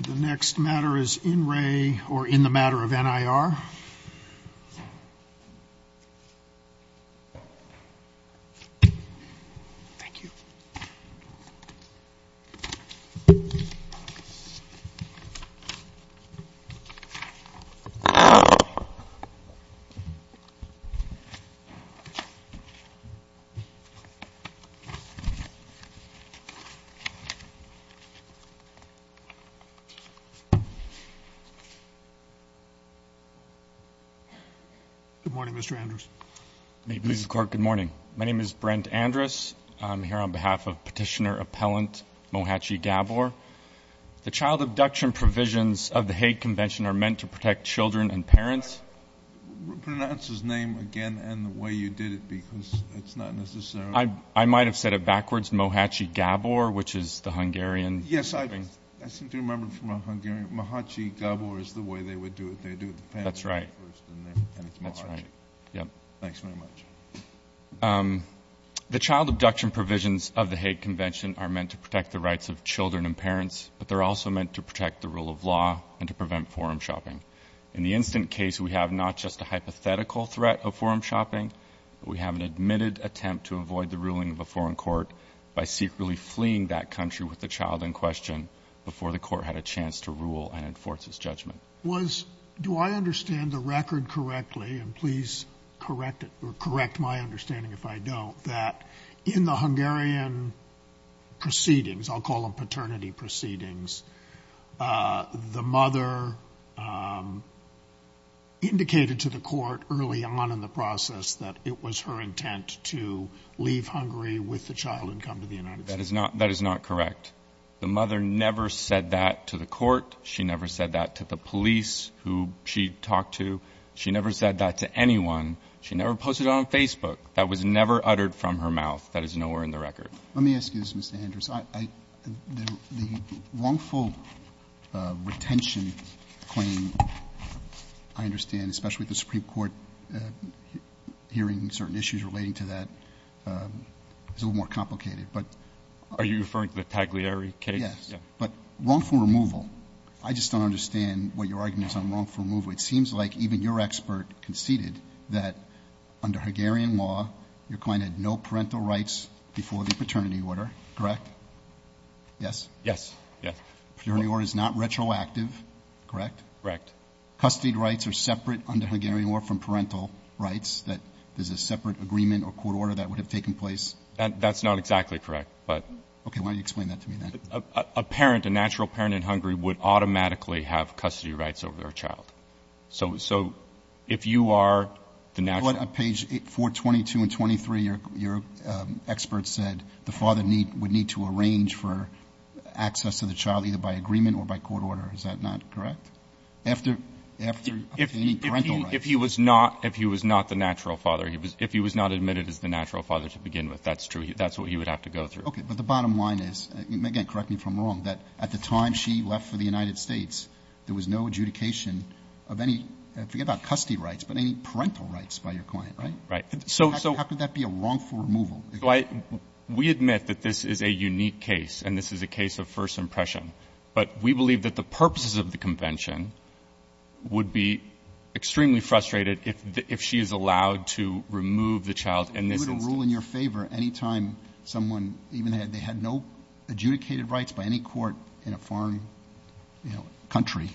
The next matter is In Re or In the Matter of NIR. Good morning, Mr. Andrus. May it please the Court, good morning. My name is Brent Andrus. I'm here on behalf of Petitioner Appellant Mohaci Gabor. The child abduction provisions of the Hague Convention are meant to protect children and parents. Pronounce his name again and the way you did it, because it's not necessarily... I might have said it backwards, Mohaci Gabor, which is the Hungarian... Yes, I seem to remember from a Hungarian, Mohaci Gabor is the way they would do it. They do it... That's right. That's right. Yep. Thanks very much. The child abduction provisions of the Hague Convention are meant to protect the rights of children and parents, but they're also meant to protect the rule of law and to prevent forum shopping. In the instant case, we have not just a hypothetical threat of forum shopping, but we have an admitted attempt to avoid the ruling of a foreign court by secretly fleeing that country with a child in question before the court had a chance to rule and enforce its judgment. Do I understand the record correctly, and please correct my understanding if I don't, that in the Hungarian proceedings, I'll call them paternity proceedings, the mother indicated to the court early on in the process that it was her intent to leave Hungary with the child and come to the United States? That is not correct. The mother never said that to the court. She never said that to the police who she talked to. She never said that to anyone. She never posted it on Facebook. That was never uttered from her mouth. That is nowhere in the record. Let me ask you this, Mr. Hendricks. The wrongful retention claim, I understand, especially with the Supreme Court hearing certain issues relating to that, is a little more complicated. Are you referring to the Pagliari case? Yes. But wrongful removal, I just don't understand what your argument is on wrongful removal. It seems like even your expert conceded that under Hungarian law, your client had no parental rights before the paternity order, correct? Yes? Yes. Yes. Paternity order is not retroactive, correct? Correct. Custody rights are separate under Hungarian law from parental rights, that there's a separate agreement or court order that would have taken place? That's not exactly correct. Okay. Why don't you explain that to me, then? A parent, a natural parent in Hungary, would automatically have custody rights over their child. So if you are the natural parent— On page 422 and 423, your expert said the father would need to arrange for access to the child either by agreement or by court order. Is that not correct? After obtaining parental rights? If he was not the natural father, if he was not admitted as the natural father to begin with, that's true. That's what he would have to go through. Okay. But the bottom line is, again, correct me if I'm wrong, that at the time she left for the United States, there was no adjudication of any, forget about custody rights, but any parental rights by your client, right? Right. How could that be a wrongful removal? We admit that this is a unique case, and this is a case of first impression. But we believe that the purposes of the convention would be extremely frustrated if she is allowed to remove the child in this instance. Would it rule in your favor any time someone, even if they had no adjudicated rights by any court in a foreign country,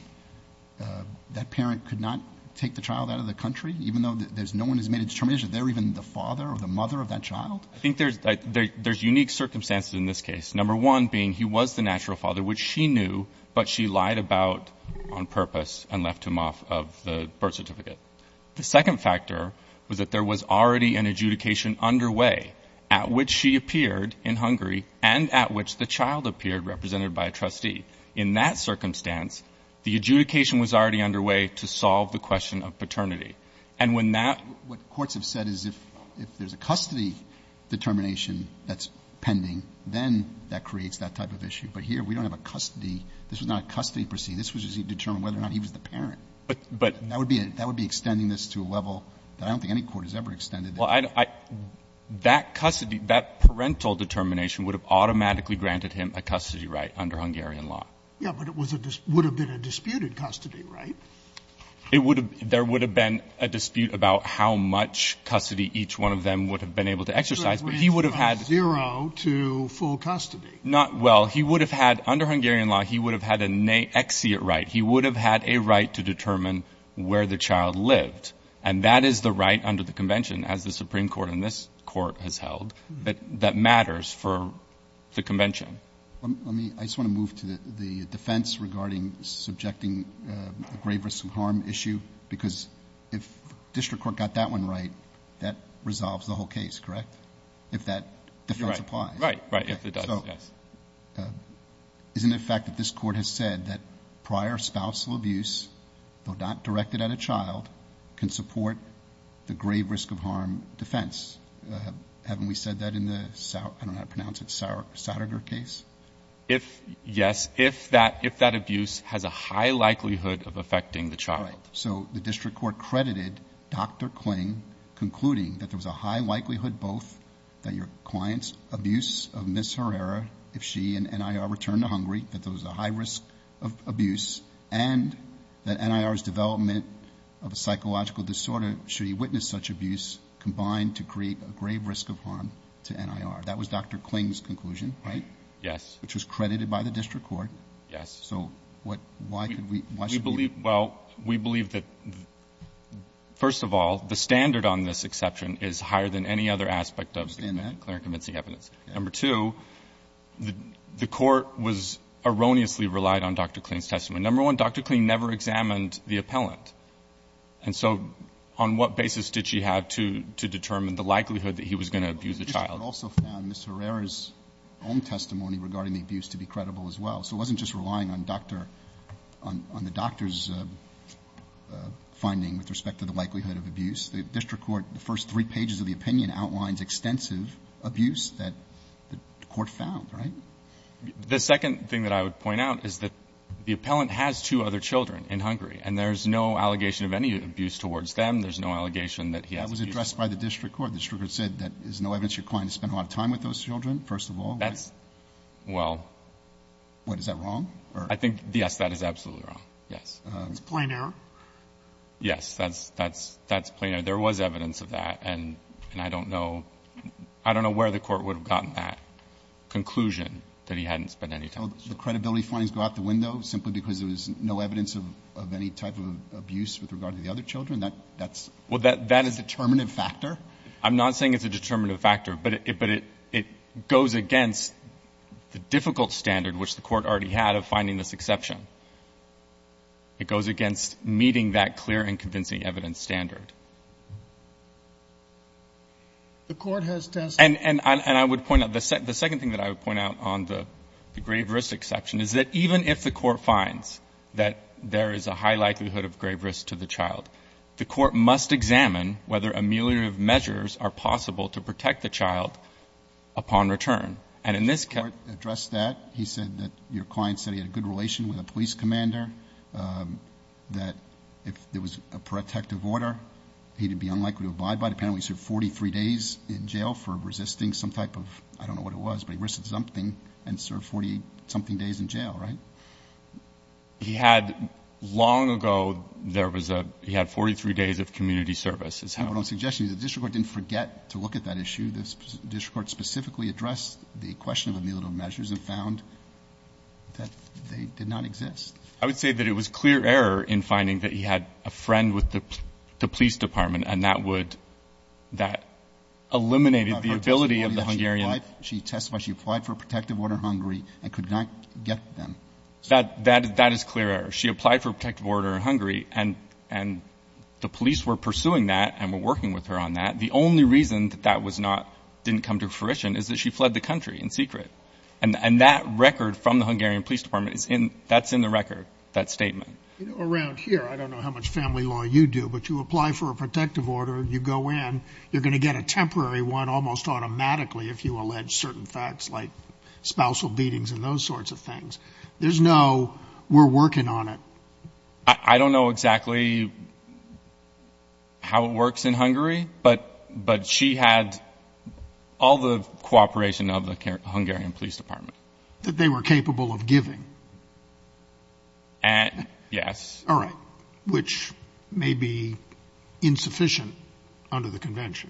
that parent could not take the child out of the country, even though no one has made a determination if they're even the father or the mother of that child? I think there's unique circumstances in this case. Number one being he was the natural father, which she knew, but she lied about on purpose and left him off of the birth certificate. The second factor was that there was already an adjudication underway at which she appeared in Hungary and at which the child appeared represented by a trustee. In that circumstance, the adjudication was already underway to solve the question of paternity. And when that... That creates that type of issue. But here, we don't have a custody. This was not a custody proceeding. This was to determine whether or not he was the parent. But... That would be extending this to a level that I don't think any court has ever extended. That custody, that parental determination would have automatically granted him a custody right under Hungarian law. Yeah, but it would have been a disputed custody right. It would have... There would have been a dispute about how much custody each one of them would have been able to exercise, but he would have had... Not... Well, he would have had... Under Hungarian law, he would have had an exeunt right. He would have had a right to determine where the child lived. And that is the right under the convention as the Supreme Court and this court has held that matters for the convention. Let me... I just want to move to the defense regarding subjecting the grave risk of harm issue because if district court got that one right, that resolves the whole case, correct? If that defense applies. Right, right. If it does, yes. So, isn't it a fact that this court has said that prior spousal abuse, though not directed at a child, can support the grave risk of harm defense? Haven't we said that in the, I don't know how to pronounce it, Sautterger case? If, yes, if that abuse has a high likelihood of affecting the child. Right, so the district court credited Dr. Kling, concluding that there was a high likelihood both that your client's abuse of Ms. Herrera, if she and NIR returned to Hungary, that there was a high risk of abuse, and that NIR's development of a psychological disorder, should he witness such abuse, combined to create a grave risk of harm to NIR. That was Dr. Kling's conclusion, right? Yes. Which was credited by the district court. Yes. So, why should we... We believe, well, we believe that, first of all, the standard on this exception is higher than any other aspect of the Clarence-Kaminsky evidence. Number two, the court was erroneously relied on Dr. Kling's testimony. Number one, Dr. Kling never examined the appellant. And so, on what basis did she have to determine the likelihood that he was going to abuse the child? Well, the district court also found Ms. Herrera's own testimony regarding the abuse to be credible as well. So it wasn't just relying on doctor, on the doctor's finding with respect to the likelihood of abuse. The district court, the first three pages of the opinion outlines extensive abuse that the court found, right? The second thing that I would point out is that the appellant has two other children in Hungary, and there's no allegation of any abuse towards them. There's no allegation that he has abuse. That was addressed by the district court. The district court said that there's no evidence you're inclined to spend a lot of time with those children, first of all. That's, well... What, is that wrong? I think, yes, that is absolutely wrong. Yes. It's plain error? Yes. That's plain error. There was evidence of that, and I don't know where the court would have gotten that conclusion that he hadn't spent any time. So the credibility findings go out the window simply because there was no evidence of any type of abuse with regard to the other children? That's a determinative factor? I'm not saying it's a determinative factor, but it goes against the difficult standard, which the court already had, of finding this exception. It goes against meeting that clear and convincing evidence standard. The court has tested... And I would point out, the second thing that I would point out on the grave risk exception is that even if the court finds that there is a high likelihood of grave risk to the child, the court must examine whether ameliorative measures are possible to protect the child upon return. And in this case... The district court addressed that. He said that your client said he had a good relation with a police commander, that if there was a protective order, he'd be unlikely to abide by it. Apparently, he served 43 days in jail for resisting some type of, I don't know what it was, but he risked something and served 40-something days in jail, right? He had, long ago, there was a... He had 43 days of community service, is how... What I'm suggesting is the district court didn't forget to look at that issue. The district court specifically addressed the question of ameliorative measures and found that they did not exist. I would say that it was clear error in finding that he had a friend with the police department and that would, that eliminated the ability of the Hungarian... She testified she applied for a protective order in Hungary and could not get them. That is clear error. She applied for a protective order in Hungary, and the police were pursuing that and were working with her on that. The only reason that that was not, didn't come to fruition is that she fled the country in secret. And that record from the Hungarian police department is in, that's in the record, that statement. Around here, I don't know how much family law you do, but you apply for a protective order, you go in, you're going to get a temporary one almost automatically if you allege certain facts like spousal beatings and those sorts of things. There's no, we're working on it. I don't know exactly how it works in Hungary, but she had all the cooperation of the Hungarian police department. That they were capable of giving. Yes. All right. Which may be insufficient under the convention.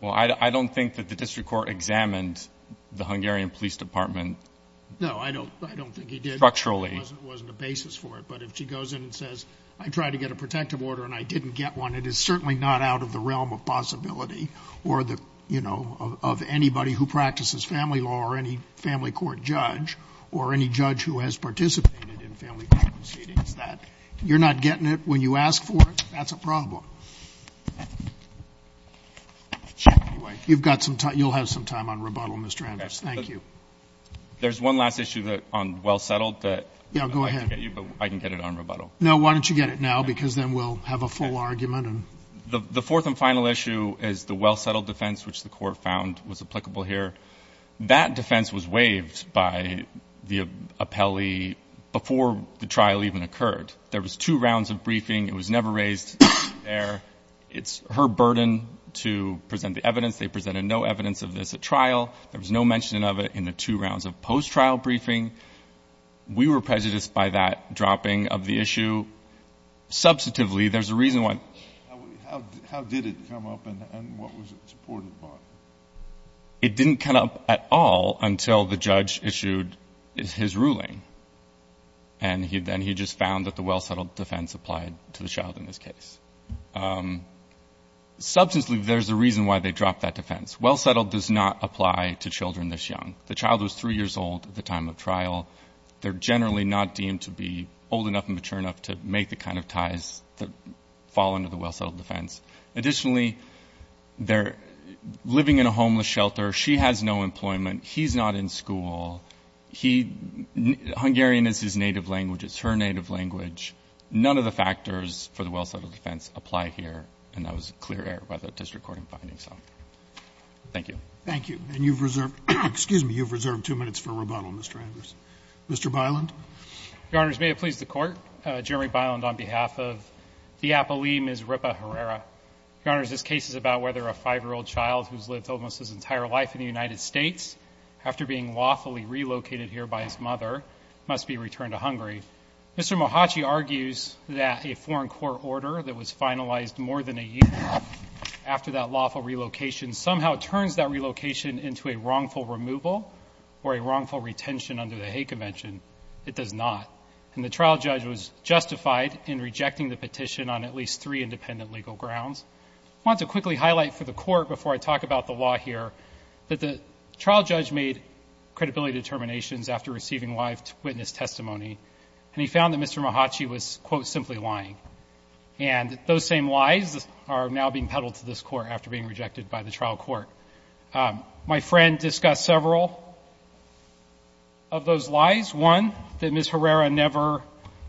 Well, I don't think that the district court examined the Hungarian police department. No, I don't think he did. Structurally. It wasn't a basis for it, but if she goes in and says, I tried to get a protective order and I didn't get one, it is certainly not out of the realm of family law or the, you know, of anybody who practices family law or any family court judge or any judge who has participated in family court proceedings that you're not getting it when you ask for it, that's a problem. You've got some time, you'll have some time on rebuttal, Mr. Anders. Thank you. There's one last issue on well settled that I'd like to get you, but I can get it on rebuttal. No, why don't you get it now, because then we'll have a full argument. The fourth and final issue is the well settled defense, which the court found was applicable here. That defense was waived by the appellee before the trial even occurred. There was two rounds of briefing. It was never raised there. It's her burden to present the evidence. They presented no evidence of this at trial. There was no mention of it in the two rounds of post-trial briefing. We were prejudiced by that dropping of the issue. Substantively, there's a reason why. How did it come up and what was it supported by? It didn't come up at all until the judge issued his ruling, and then he just found that the well settled defense applied to the child in this case. Substantively, there's a reason why they dropped that defense. Well settled does not apply to children this young. The child was 3 years old at the time of trial. They're generally not deemed to be old enough and mature enough to make the kind of ties that fall under the well settled defense. Additionally, they're living in a homeless shelter. She has no employment. He's not in school. He ‑‑ Hungarian is his native language. It's her native language. None of the factors for the well settled defense apply here, and that was a clear error by the district court in finding some. Thank you. Thank you. And you've reserved ‑‑ excuse me. You've reserved two minutes for rebuttal, Mr. Andrews. Mr. Byland? Your Honors, may it please the Court, Jeremy Byland on behalf of the Apolline Ms. Ripa Herrera. Your Honors, this case is about whether a 5‑year‑old child who's lived almost his entire life in the United States, after being lawfully relocated here by his mother, must be returned to Hungary. Mr. Mohachi argues that a foreign court order that was finalized more than a year after that lawful relocation somehow turns that relocation into a wrongful removal or a wrongful retention under the hate convention. It does not. And the trial judge was justified in rejecting the petition on at least three independent legal grounds. I want to quickly highlight for the Court, before I talk about the law here, that the trial judge made credibility determinations after receiving live witness testimony, and he found that Mr. Mohachi was, quote, simply lying. And those same lies are now being peddled to this Court after being rejected by the trial court. My friend discussed several of those lies. One, that Ms. Herrera never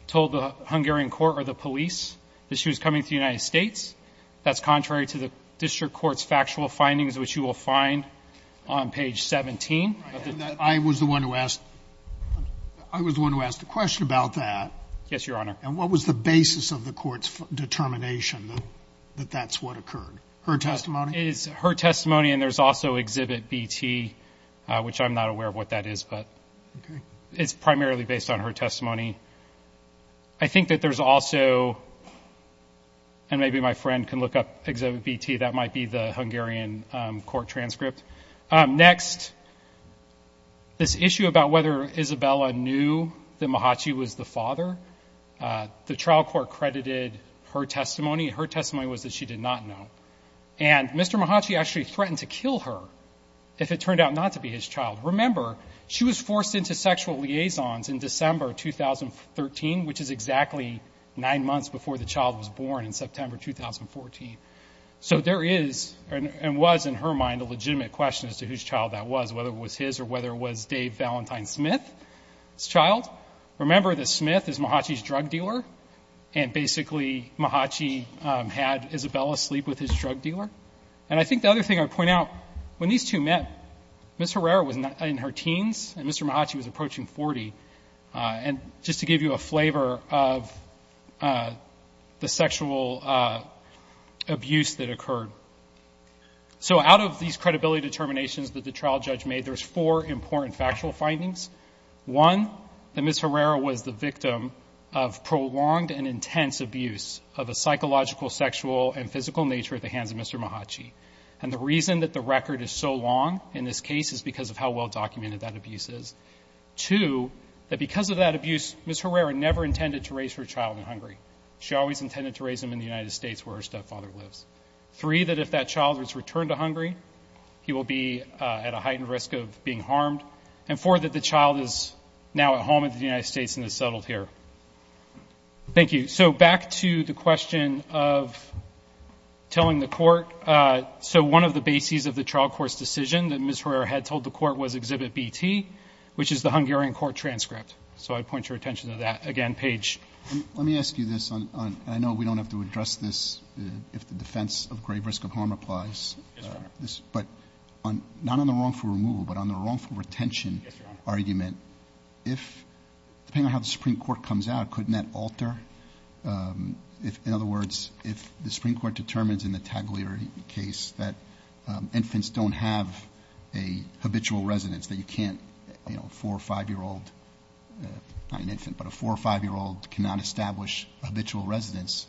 told the Hungarian court or the police that she was coming to the United States. That's contrary to the district court's factual findings, which you will find on page 17. I was the one who asked the question about that. Yes, Your Honor. And what was the basis of the court's determination that that's what occurred? Her testimony? It is her testimony, and there's also Exhibit B-T, which I'm not aware of what that is, but it's primarily based on her testimony. I think that there's also, and maybe my friend can look up Exhibit B-T, that might be the Hungarian court transcript. Next, this issue about whether Isabella knew that Mohachi was the father, the trial court credited her testimony. Her testimony was that she did not know. And Mr. Mohachi actually threatened to kill her if it turned out not to be his child. Remember, she was forced into sexual liaisons in December 2013, which is exactly nine months before the child was born in September 2014. So there is, and was in her mind, a legitimate question as to whose child that was, whether it was his or whether it was Dave Valentine Smith's child. Remember that Smith is Mohachi's drug dealer, and basically Mohachi had Isabella sleep with his drug dealer. And I think the other thing I would point out, when these two met, Ms. Herrera was in her teens, and Mr. Mohachi was approaching 40. And just to give you a flavor of the sexual abuse that occurred. So out of these credibility determinations that the trial judge made, there's four important factual findings. One, that Ms. Herrera was the victim of prolonged and intense abuse of a psychological, sexual, and physical nature at the hands of Mr. Mohachi. And the reason that the record is so long in this case is because of how well documented that abuse is. Two, that because of that abuse, Ms. Herrera never intended to raise her child in Hungary. She always intended to raise him in the United States where her stepfather lives. Three, that if that child was returned to Hungary, he will be at a heightened risk of being harmed. And four, that the child is now at home in the United States and is settled here. Thank you. So back to the question of telling the court. So one of the bases of the trial court's decision that Ms. Herrera had told the court was Exhibit B-T, which is the Hungarian court transcript. So I'd point your attention to that. Again, Page. Let me ask you this. And I know we don't have to address this if the defense of grave risk of harm applies. Yes, Your Honor. But not on the wrongful removal, but on the wrongful retention argument. Yes, Your Honor. Depending on how the Supreme Court comes out, couldn't that alter? In other words, if the Supreme Court determines in the Taglier case that infants don't have a habitual residence, that you can't, you know, a four- or five-year-old not an infant, but a four- or five-year-old cannot establish habitual residence,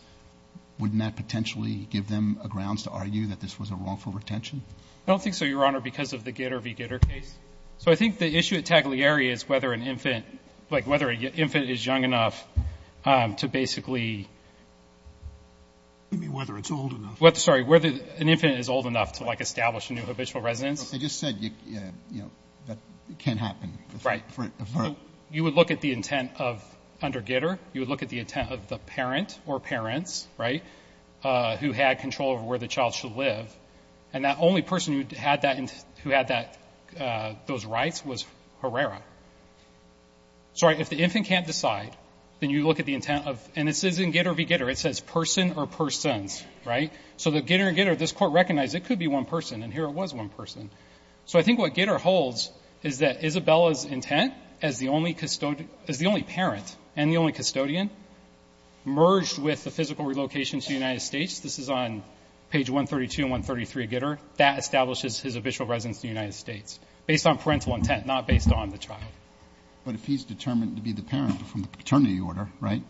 wouldn't that potentially give them a grounds to argue that this was a wrongful retention? I don't think so, Your Honor, because of the Gitter v. Gitter case. So I think the issue at Taglieri is whether an infant, like, whether an infant is young enough to basically. You mean whether it's old enough? Well, sorry, whether an infant is old enough to, like, establish a new habitual residence. I just said, you know, that can't happen. Right. You would look at the intent of under Gitter. You would look at the intent of the parent or parents, right, who had control over where the child should live. And that only person who had those rights was Herrera. So if the infant can't decide, then you look at the intent of, and this isn't Gitter v. Gitter. It says person or persons, right? So the Gitter v. Gitter, this Court recognized it could be one person, and here it was one person. So I think what Gitter holds is that Isabella's intent as the only parent and the only custodian merged with the physical relocation to the United States, this is on page 132 and 133 of Gitter, that establishes his habitual residence in the United States based on parental intent, not based on the child. But if he's determined to be the parent from the paternity order, right,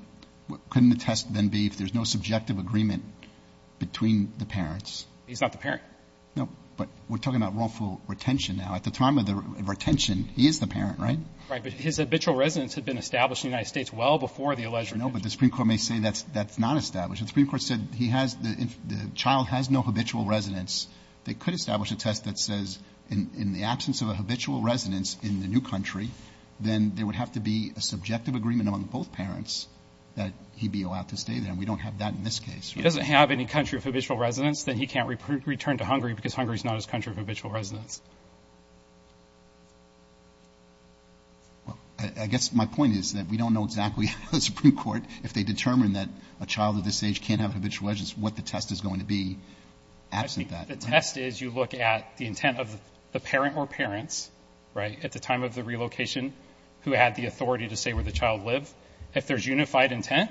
couldn't the test then be if there's no subjective agreement between the parents? He's not the parent. No. But we're talking about wrongful retention now. At the time of the retention, he is the parent, right? Right. But his habitual residence had been established in the United States well before the alleged retention. No, but the Supreme Court may say that's not established. The Supreme Court said he has the child has no habitual residence. They could establish a test that says in the absence of a habitual residence in the new country, then there would have to be a subjective agreement among both parents that he'd be allowed to stay there. And we don't have that in this case. He doesn't have any country of habitual residence, then he can't return to Hungary because Hungary is not his country of habitual residence. Well, I guess my point is that we don't know exactly how the Supreme Court, if they determine that a child of this age can't have a habitual residence, what the test is going to be absent that. I think the test is you look at the intent of the parent or parents, right, at the time of the relocation who had the authority to say where the child lived, if there's unified intent.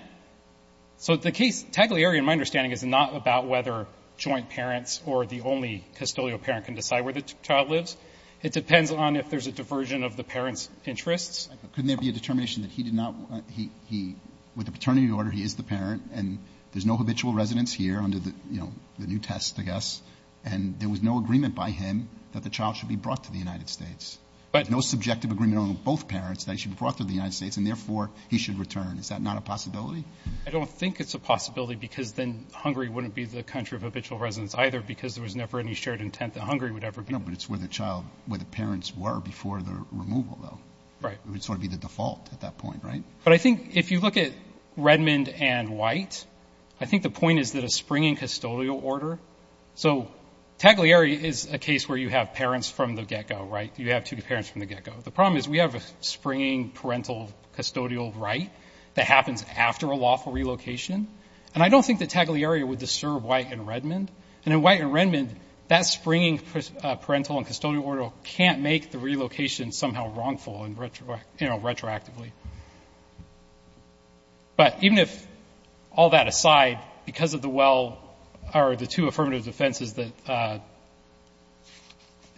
So the case, Tagliare, in my understanding, is not about whether joint parents or the only custodial parent can decide where the child lives. It depends on if there's a diversion of the parent's interests. Couldn't there be a determination that he did not, he, with the paternity order, he is the parent and there's no habitual residence here under the, you know, the new test, I guess, and there was no agreement by him that the child should be brought to the United States. No subjective agreement on both parents that he should be brought to the United States and therefore he should return. Is that not a possibility? I don't think it's a possibility because then Hungary wouldn't be the country of habitual residence either because there was never any shared intent that Hungary would ever be. No, but it's where the child, where the parents were before the removal, though. Right. It would sort of be the default at that point, right? But I think if you look at Redmond and White, I think the point is that a springing custodial order, so Tagliare is a case where you have parents from the get-go, right? You have two parents from the get-go. The problem is we have a springing parental custodial right that happens after a lawful relocation. And I don't think that Tagliare would disturb White and Redmond. And in White and Redmond, that springing parental and custodial order can't make the relocation somehow wrongful and retroactively. But even if all that aside, because of the well or the two affirmative defenses that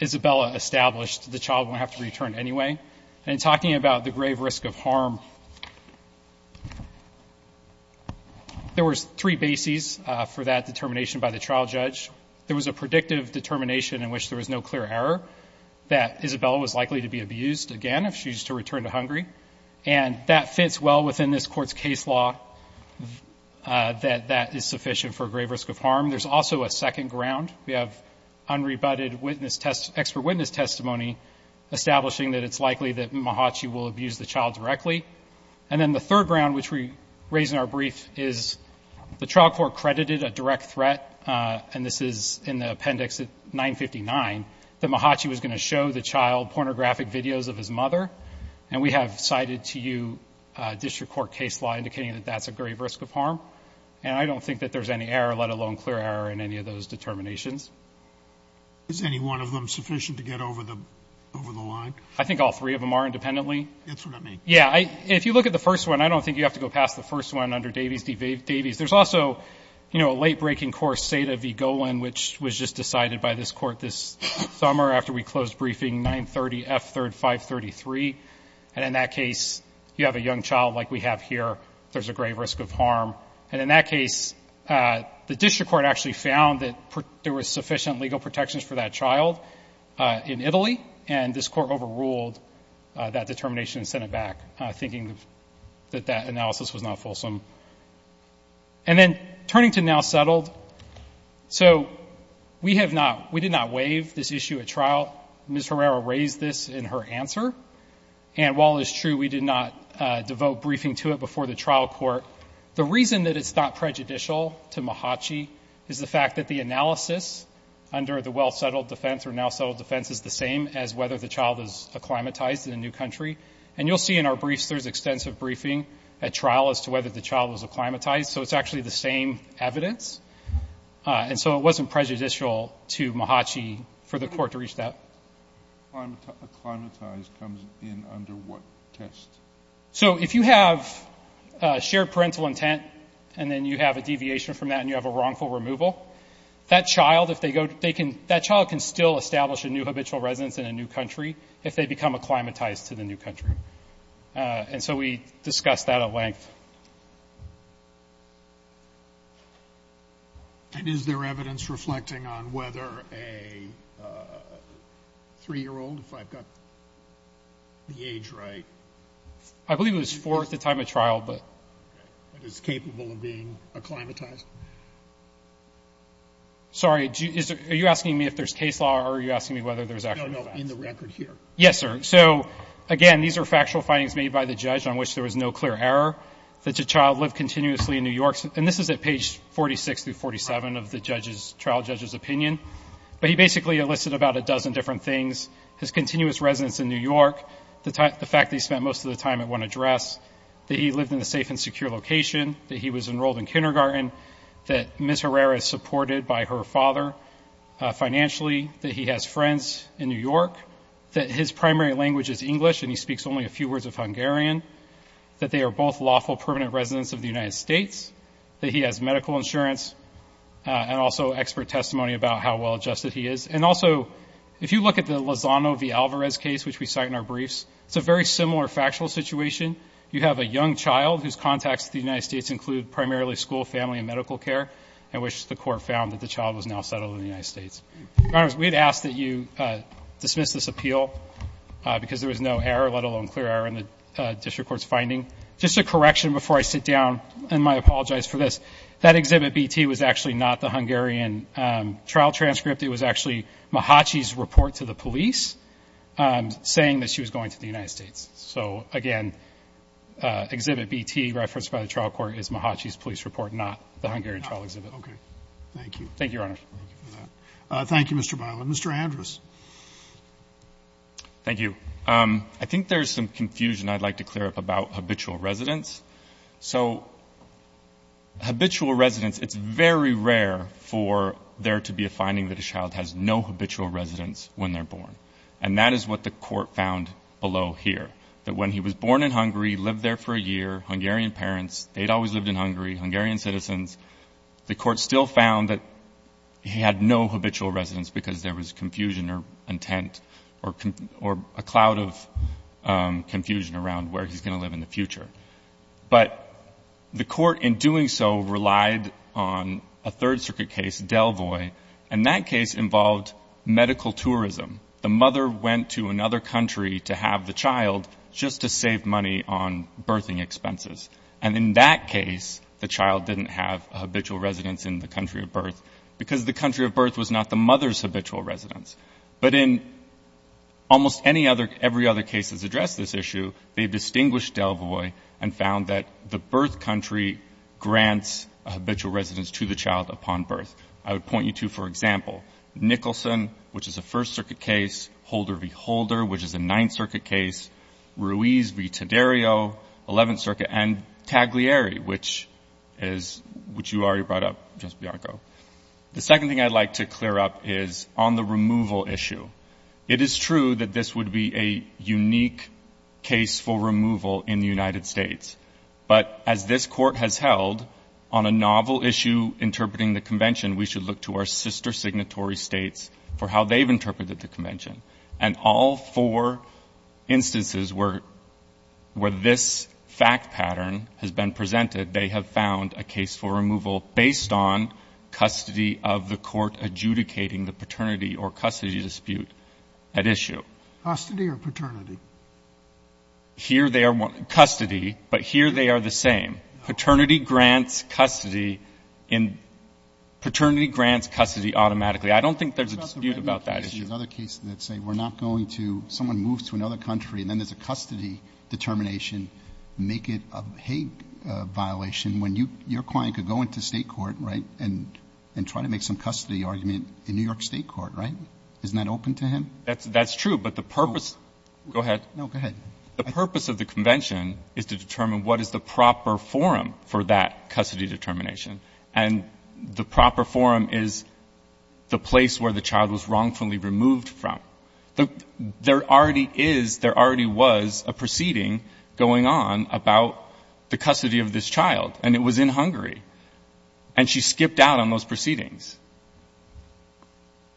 Isabella established, the child won't have to return anyway. And talking about the grave risk of harm, there was three bases for that determination by the trial judge. There was a predictive determination in which there was no clear error that Isabella was likely to be abused again if she was to return to Hungary. And that fits well within this Court's case law that that is sufficient for a grave risk of harm. There's also a second ground. We have unrebutted expert witness testimony establishing that it's likely that Mahatchi will abuse the child directly. And then the third ground, which we raise in our brief, is the trial court credited a direct threat, and this is in the appendix 959, that Mahatchi was going to show the child pornographic videos of his mother. And we have cited to you district court case law indicating that that's a grave risk of harm. And I don't think that there's any error, in any of those determinations. Is any one of them sufficient to get over the line? I think all three of them are independently. That's what I mean. Yeah. If you look at the first one, I don't think you have to go past the first one under Davies v. Davies. There's also, you know, a late-breaking course, Sata v. Golan, which was just decided by this Court this summer after we closed briefing, 930 F. 3rd 533. And in that case, you have a young child like we have here. There's a grave risk of harm. And in that case, the district court actually found that there was sufficient legal protections for that child in Italy, and this Court overruled that determination and sent it back, thinking that that analysis was not fulsome. And then, Turnington now settled. So, we have not, we did not waive this issue at trial. Ms. Herrera raised this in her answer. And while it is true we did not devote briefing to it before the trial court, the reason that it's not prejudicial to MHACHI is the fact that the analysis under the well-settled defense or now-settled defense is the same as whether the child is acclimatized in a new country. And you'll see in our briefs there's extensive briefing at trial as to whether the child was acclimatized. So, it's actually the same evidence. And so, it wasn't prejudicial to MHACHI for the court to reach that. Acclimatized comes in under what test? So, if you have shared parental intent and then you have a deviation from that and you have a wrongful removal, that child, if they go, they can, that child can still establish a new habitual residence in a new country if they become acclimatized to the new country. And so, we discussed that at length. Okay. And is there evidence reflecting on whether a 3-year-old, if I've got the age right? I believe it was 4 at the time of trial, but. But is capable of being acclimatized? Sorry, are you asking me if there's case law or are you asking me whether there's actual facts? No, no, in the record here. Yes, sir. So, again, these are factual findings made by the judge on which there was no clear error that the child lived continuously in New York. And this is at page 46 through 47 of the trial judge's opinion. But he basically enlisted about a dozen different things. His continuous residence in New York, the fact that he spent most of the time at one address, that he lived in a safe and secure location, that he was enrolled in kindergarten, that Ms. Herrera is supported by her father financially, that he has friends in New York, that his primary language is English and he speaks only a few words of Hungarian, that they are both lawful permanent residents of the United States, that he has medical insurance, and also expert testimony about how well adjusted he is. And also, if you look at the Lozano v. Alvarez case, which we cite in our briefs, it's a very similar factual situation. You have a young child whose contacts to the United States include primarily school, family, and medical care, in which the court found that the child was now settled in the United States. Your Honors, we'd ask that you dismiss this appeal because there was no error, let alone clear error in the district court's finding. Just a correction before I sit down, and I apologize for this, that exhibit BT was actually not the Hungarian trial transcript. It was actually Mahatchi's report to the police saying that she was going to the United States. So, again, exhibit BT referenced by the trial court is Mahatchi's police report, not the Hungarian trial exhibit. Okay. Thank you. Thank you, Your Honors. Thank you for that. Thank you, Mr. Byland. Mr. Andrus. Thank you. I think there's some confusion I'd like to clear up about habitual residence. So habitual residence, it's very rare for there to be a finding that a child has no habitual residence when they're born. And that is what the court found below here, that when he was born in Hungary, lived there for a year, Hungarian parents, they'd always lived in Hungary, Hungarian citizens, the court still found that he had no habitual residence because there was confusion or intent or a cloud of confusion around where he's going to live in the future. But the court, in doing so, relied on a Third Circuit case, Delvoy, and that case involved medical tourism. The mother went to another country to have the child just to save money on birthing expenses. And in that case, the child didn't have a habitual residence in the country of birth because the country of birth was not the mother's habitual residence. But in almost every other case that's addressed this issue, they've distinguished Delvoy and found that the birth country grants a habitual residence to the child upon birth. I would point you to, for example, Nicholson, which is a First Circuit case, Holder v. Holder, which is a Ninth Circuit case, Ruiz v. Taddeo, Eleventh Circuit, and Taglieri, which you already brought up, Justice Bianco. The second thing I'd like to clear up is on the removal issue. It is true that this would be a unique case for removal in the United States. But as this Court has held, on a novel issue interpreting the convention, we should look to our sister signatory states for how they've interpreted the convention. And all four instances where this fact pattern has been presented, they have found a case for removal based on custody of the court adjudicating the paternity or custody dispute at issue. Custody or paternity? Here they are custody, but here they are the same. Paternity grants custody in — paternity grants custody automatically. I don't think there's a dispute about that issue. There's other cases that say we're not going to — someone moves to another country and then there's a custody determination, make it a hate violation, when your client could go into State court, right, and try to make some custody argument in New York State court, right? Isn't that open to him? That's true, but the purpose — go ahead. No, go ahead. The purpose of the convention is to determine what is the proper forum for that custody determination. And the proper forum is the place where the child was wrongfully removed from. There already is — there already was a proceeding going on about the custody of this child, and it was in Hungary, and she skipped out on those proceedings.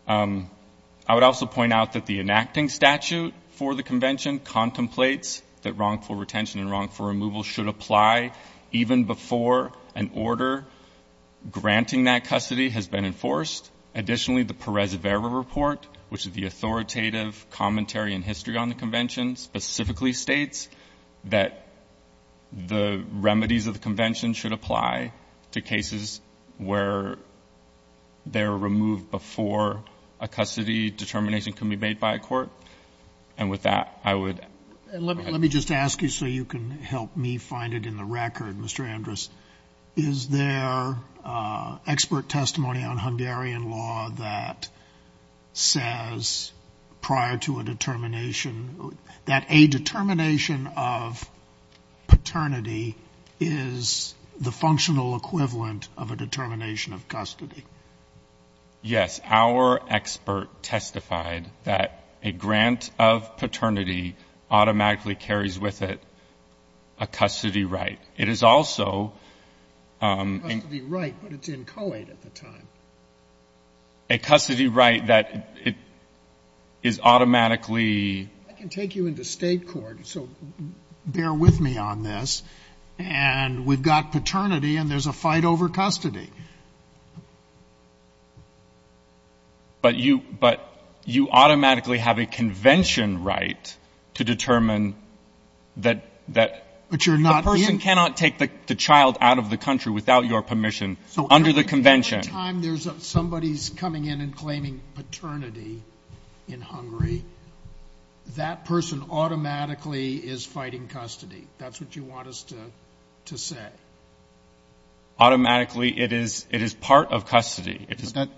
I would also point out that the enacting statute for the convention contemplates that wrongful retention and wrongful removal should apply even before an order granting that custody has been enforced. Additionally, the Perez-Vera report, which is the authoritative commentary in history on the convention, specifically states that the remedies of the convention should apply to cases where they're removed before a custody determination can be made by a court. And with that, I would — Let me just ask you so you can help me find it in the record, Mr. Andrus. Is there expert testimony on Hungarian law that says prior to a determination that a determination of paternity is the functional equivalent of a determination of custody? Yes. Our expert testified that a grant of paternity automatically carries with it a custody right. It is also a — A custody right, but it's in coed at the time. A custody right that it is automatically — I can take you into State court, so bear with me on this. And we've got paternity, and there's a fight over custody. But you automatically have a convention right to determine that — But you're not in — The person cannot take the child out of the country without your permission under the convention. At the time there's somebody coming in and claiming paternity in Hungary, that person automatically is fighting custody. That's what you want us to say. Automatically, it is part of custody.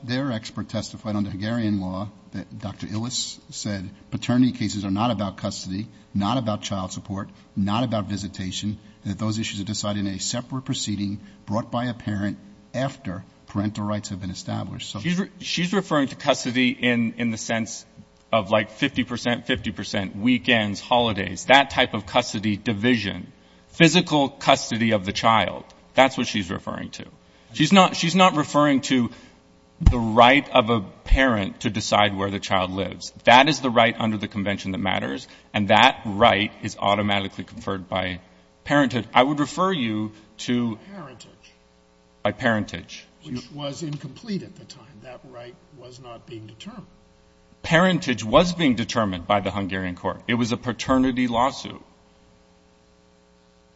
Their expert testified under Hungarian law that Dr. Illes said paternity cases are not about custody, not about child support, not about visitation, that those issues are decided in a separate proceeding brought by a parent after parental rights have been established. She's referring to custody in the sense of, like, 50 percent, 50 percent, weekends, holidays, that type of custody division, physical custody of the child. That's what she's referring to. She's not referring to the right of a parent to decide where the child lives. That is the right under the convention that matters, and that right is automatically conferred by parenthood. I would refer you to — By parentage. By parentage. Which was incomplete at the time. That right was not being determined. Parentage was being determined by the Hungarian court. It was a paternity lawsuit.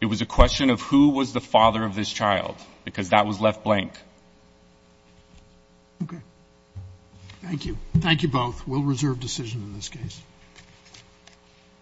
It was a question of who was the father of this child, because that was left blank. Okay. Thank you. Thank you both. We'll reserve decision in this case.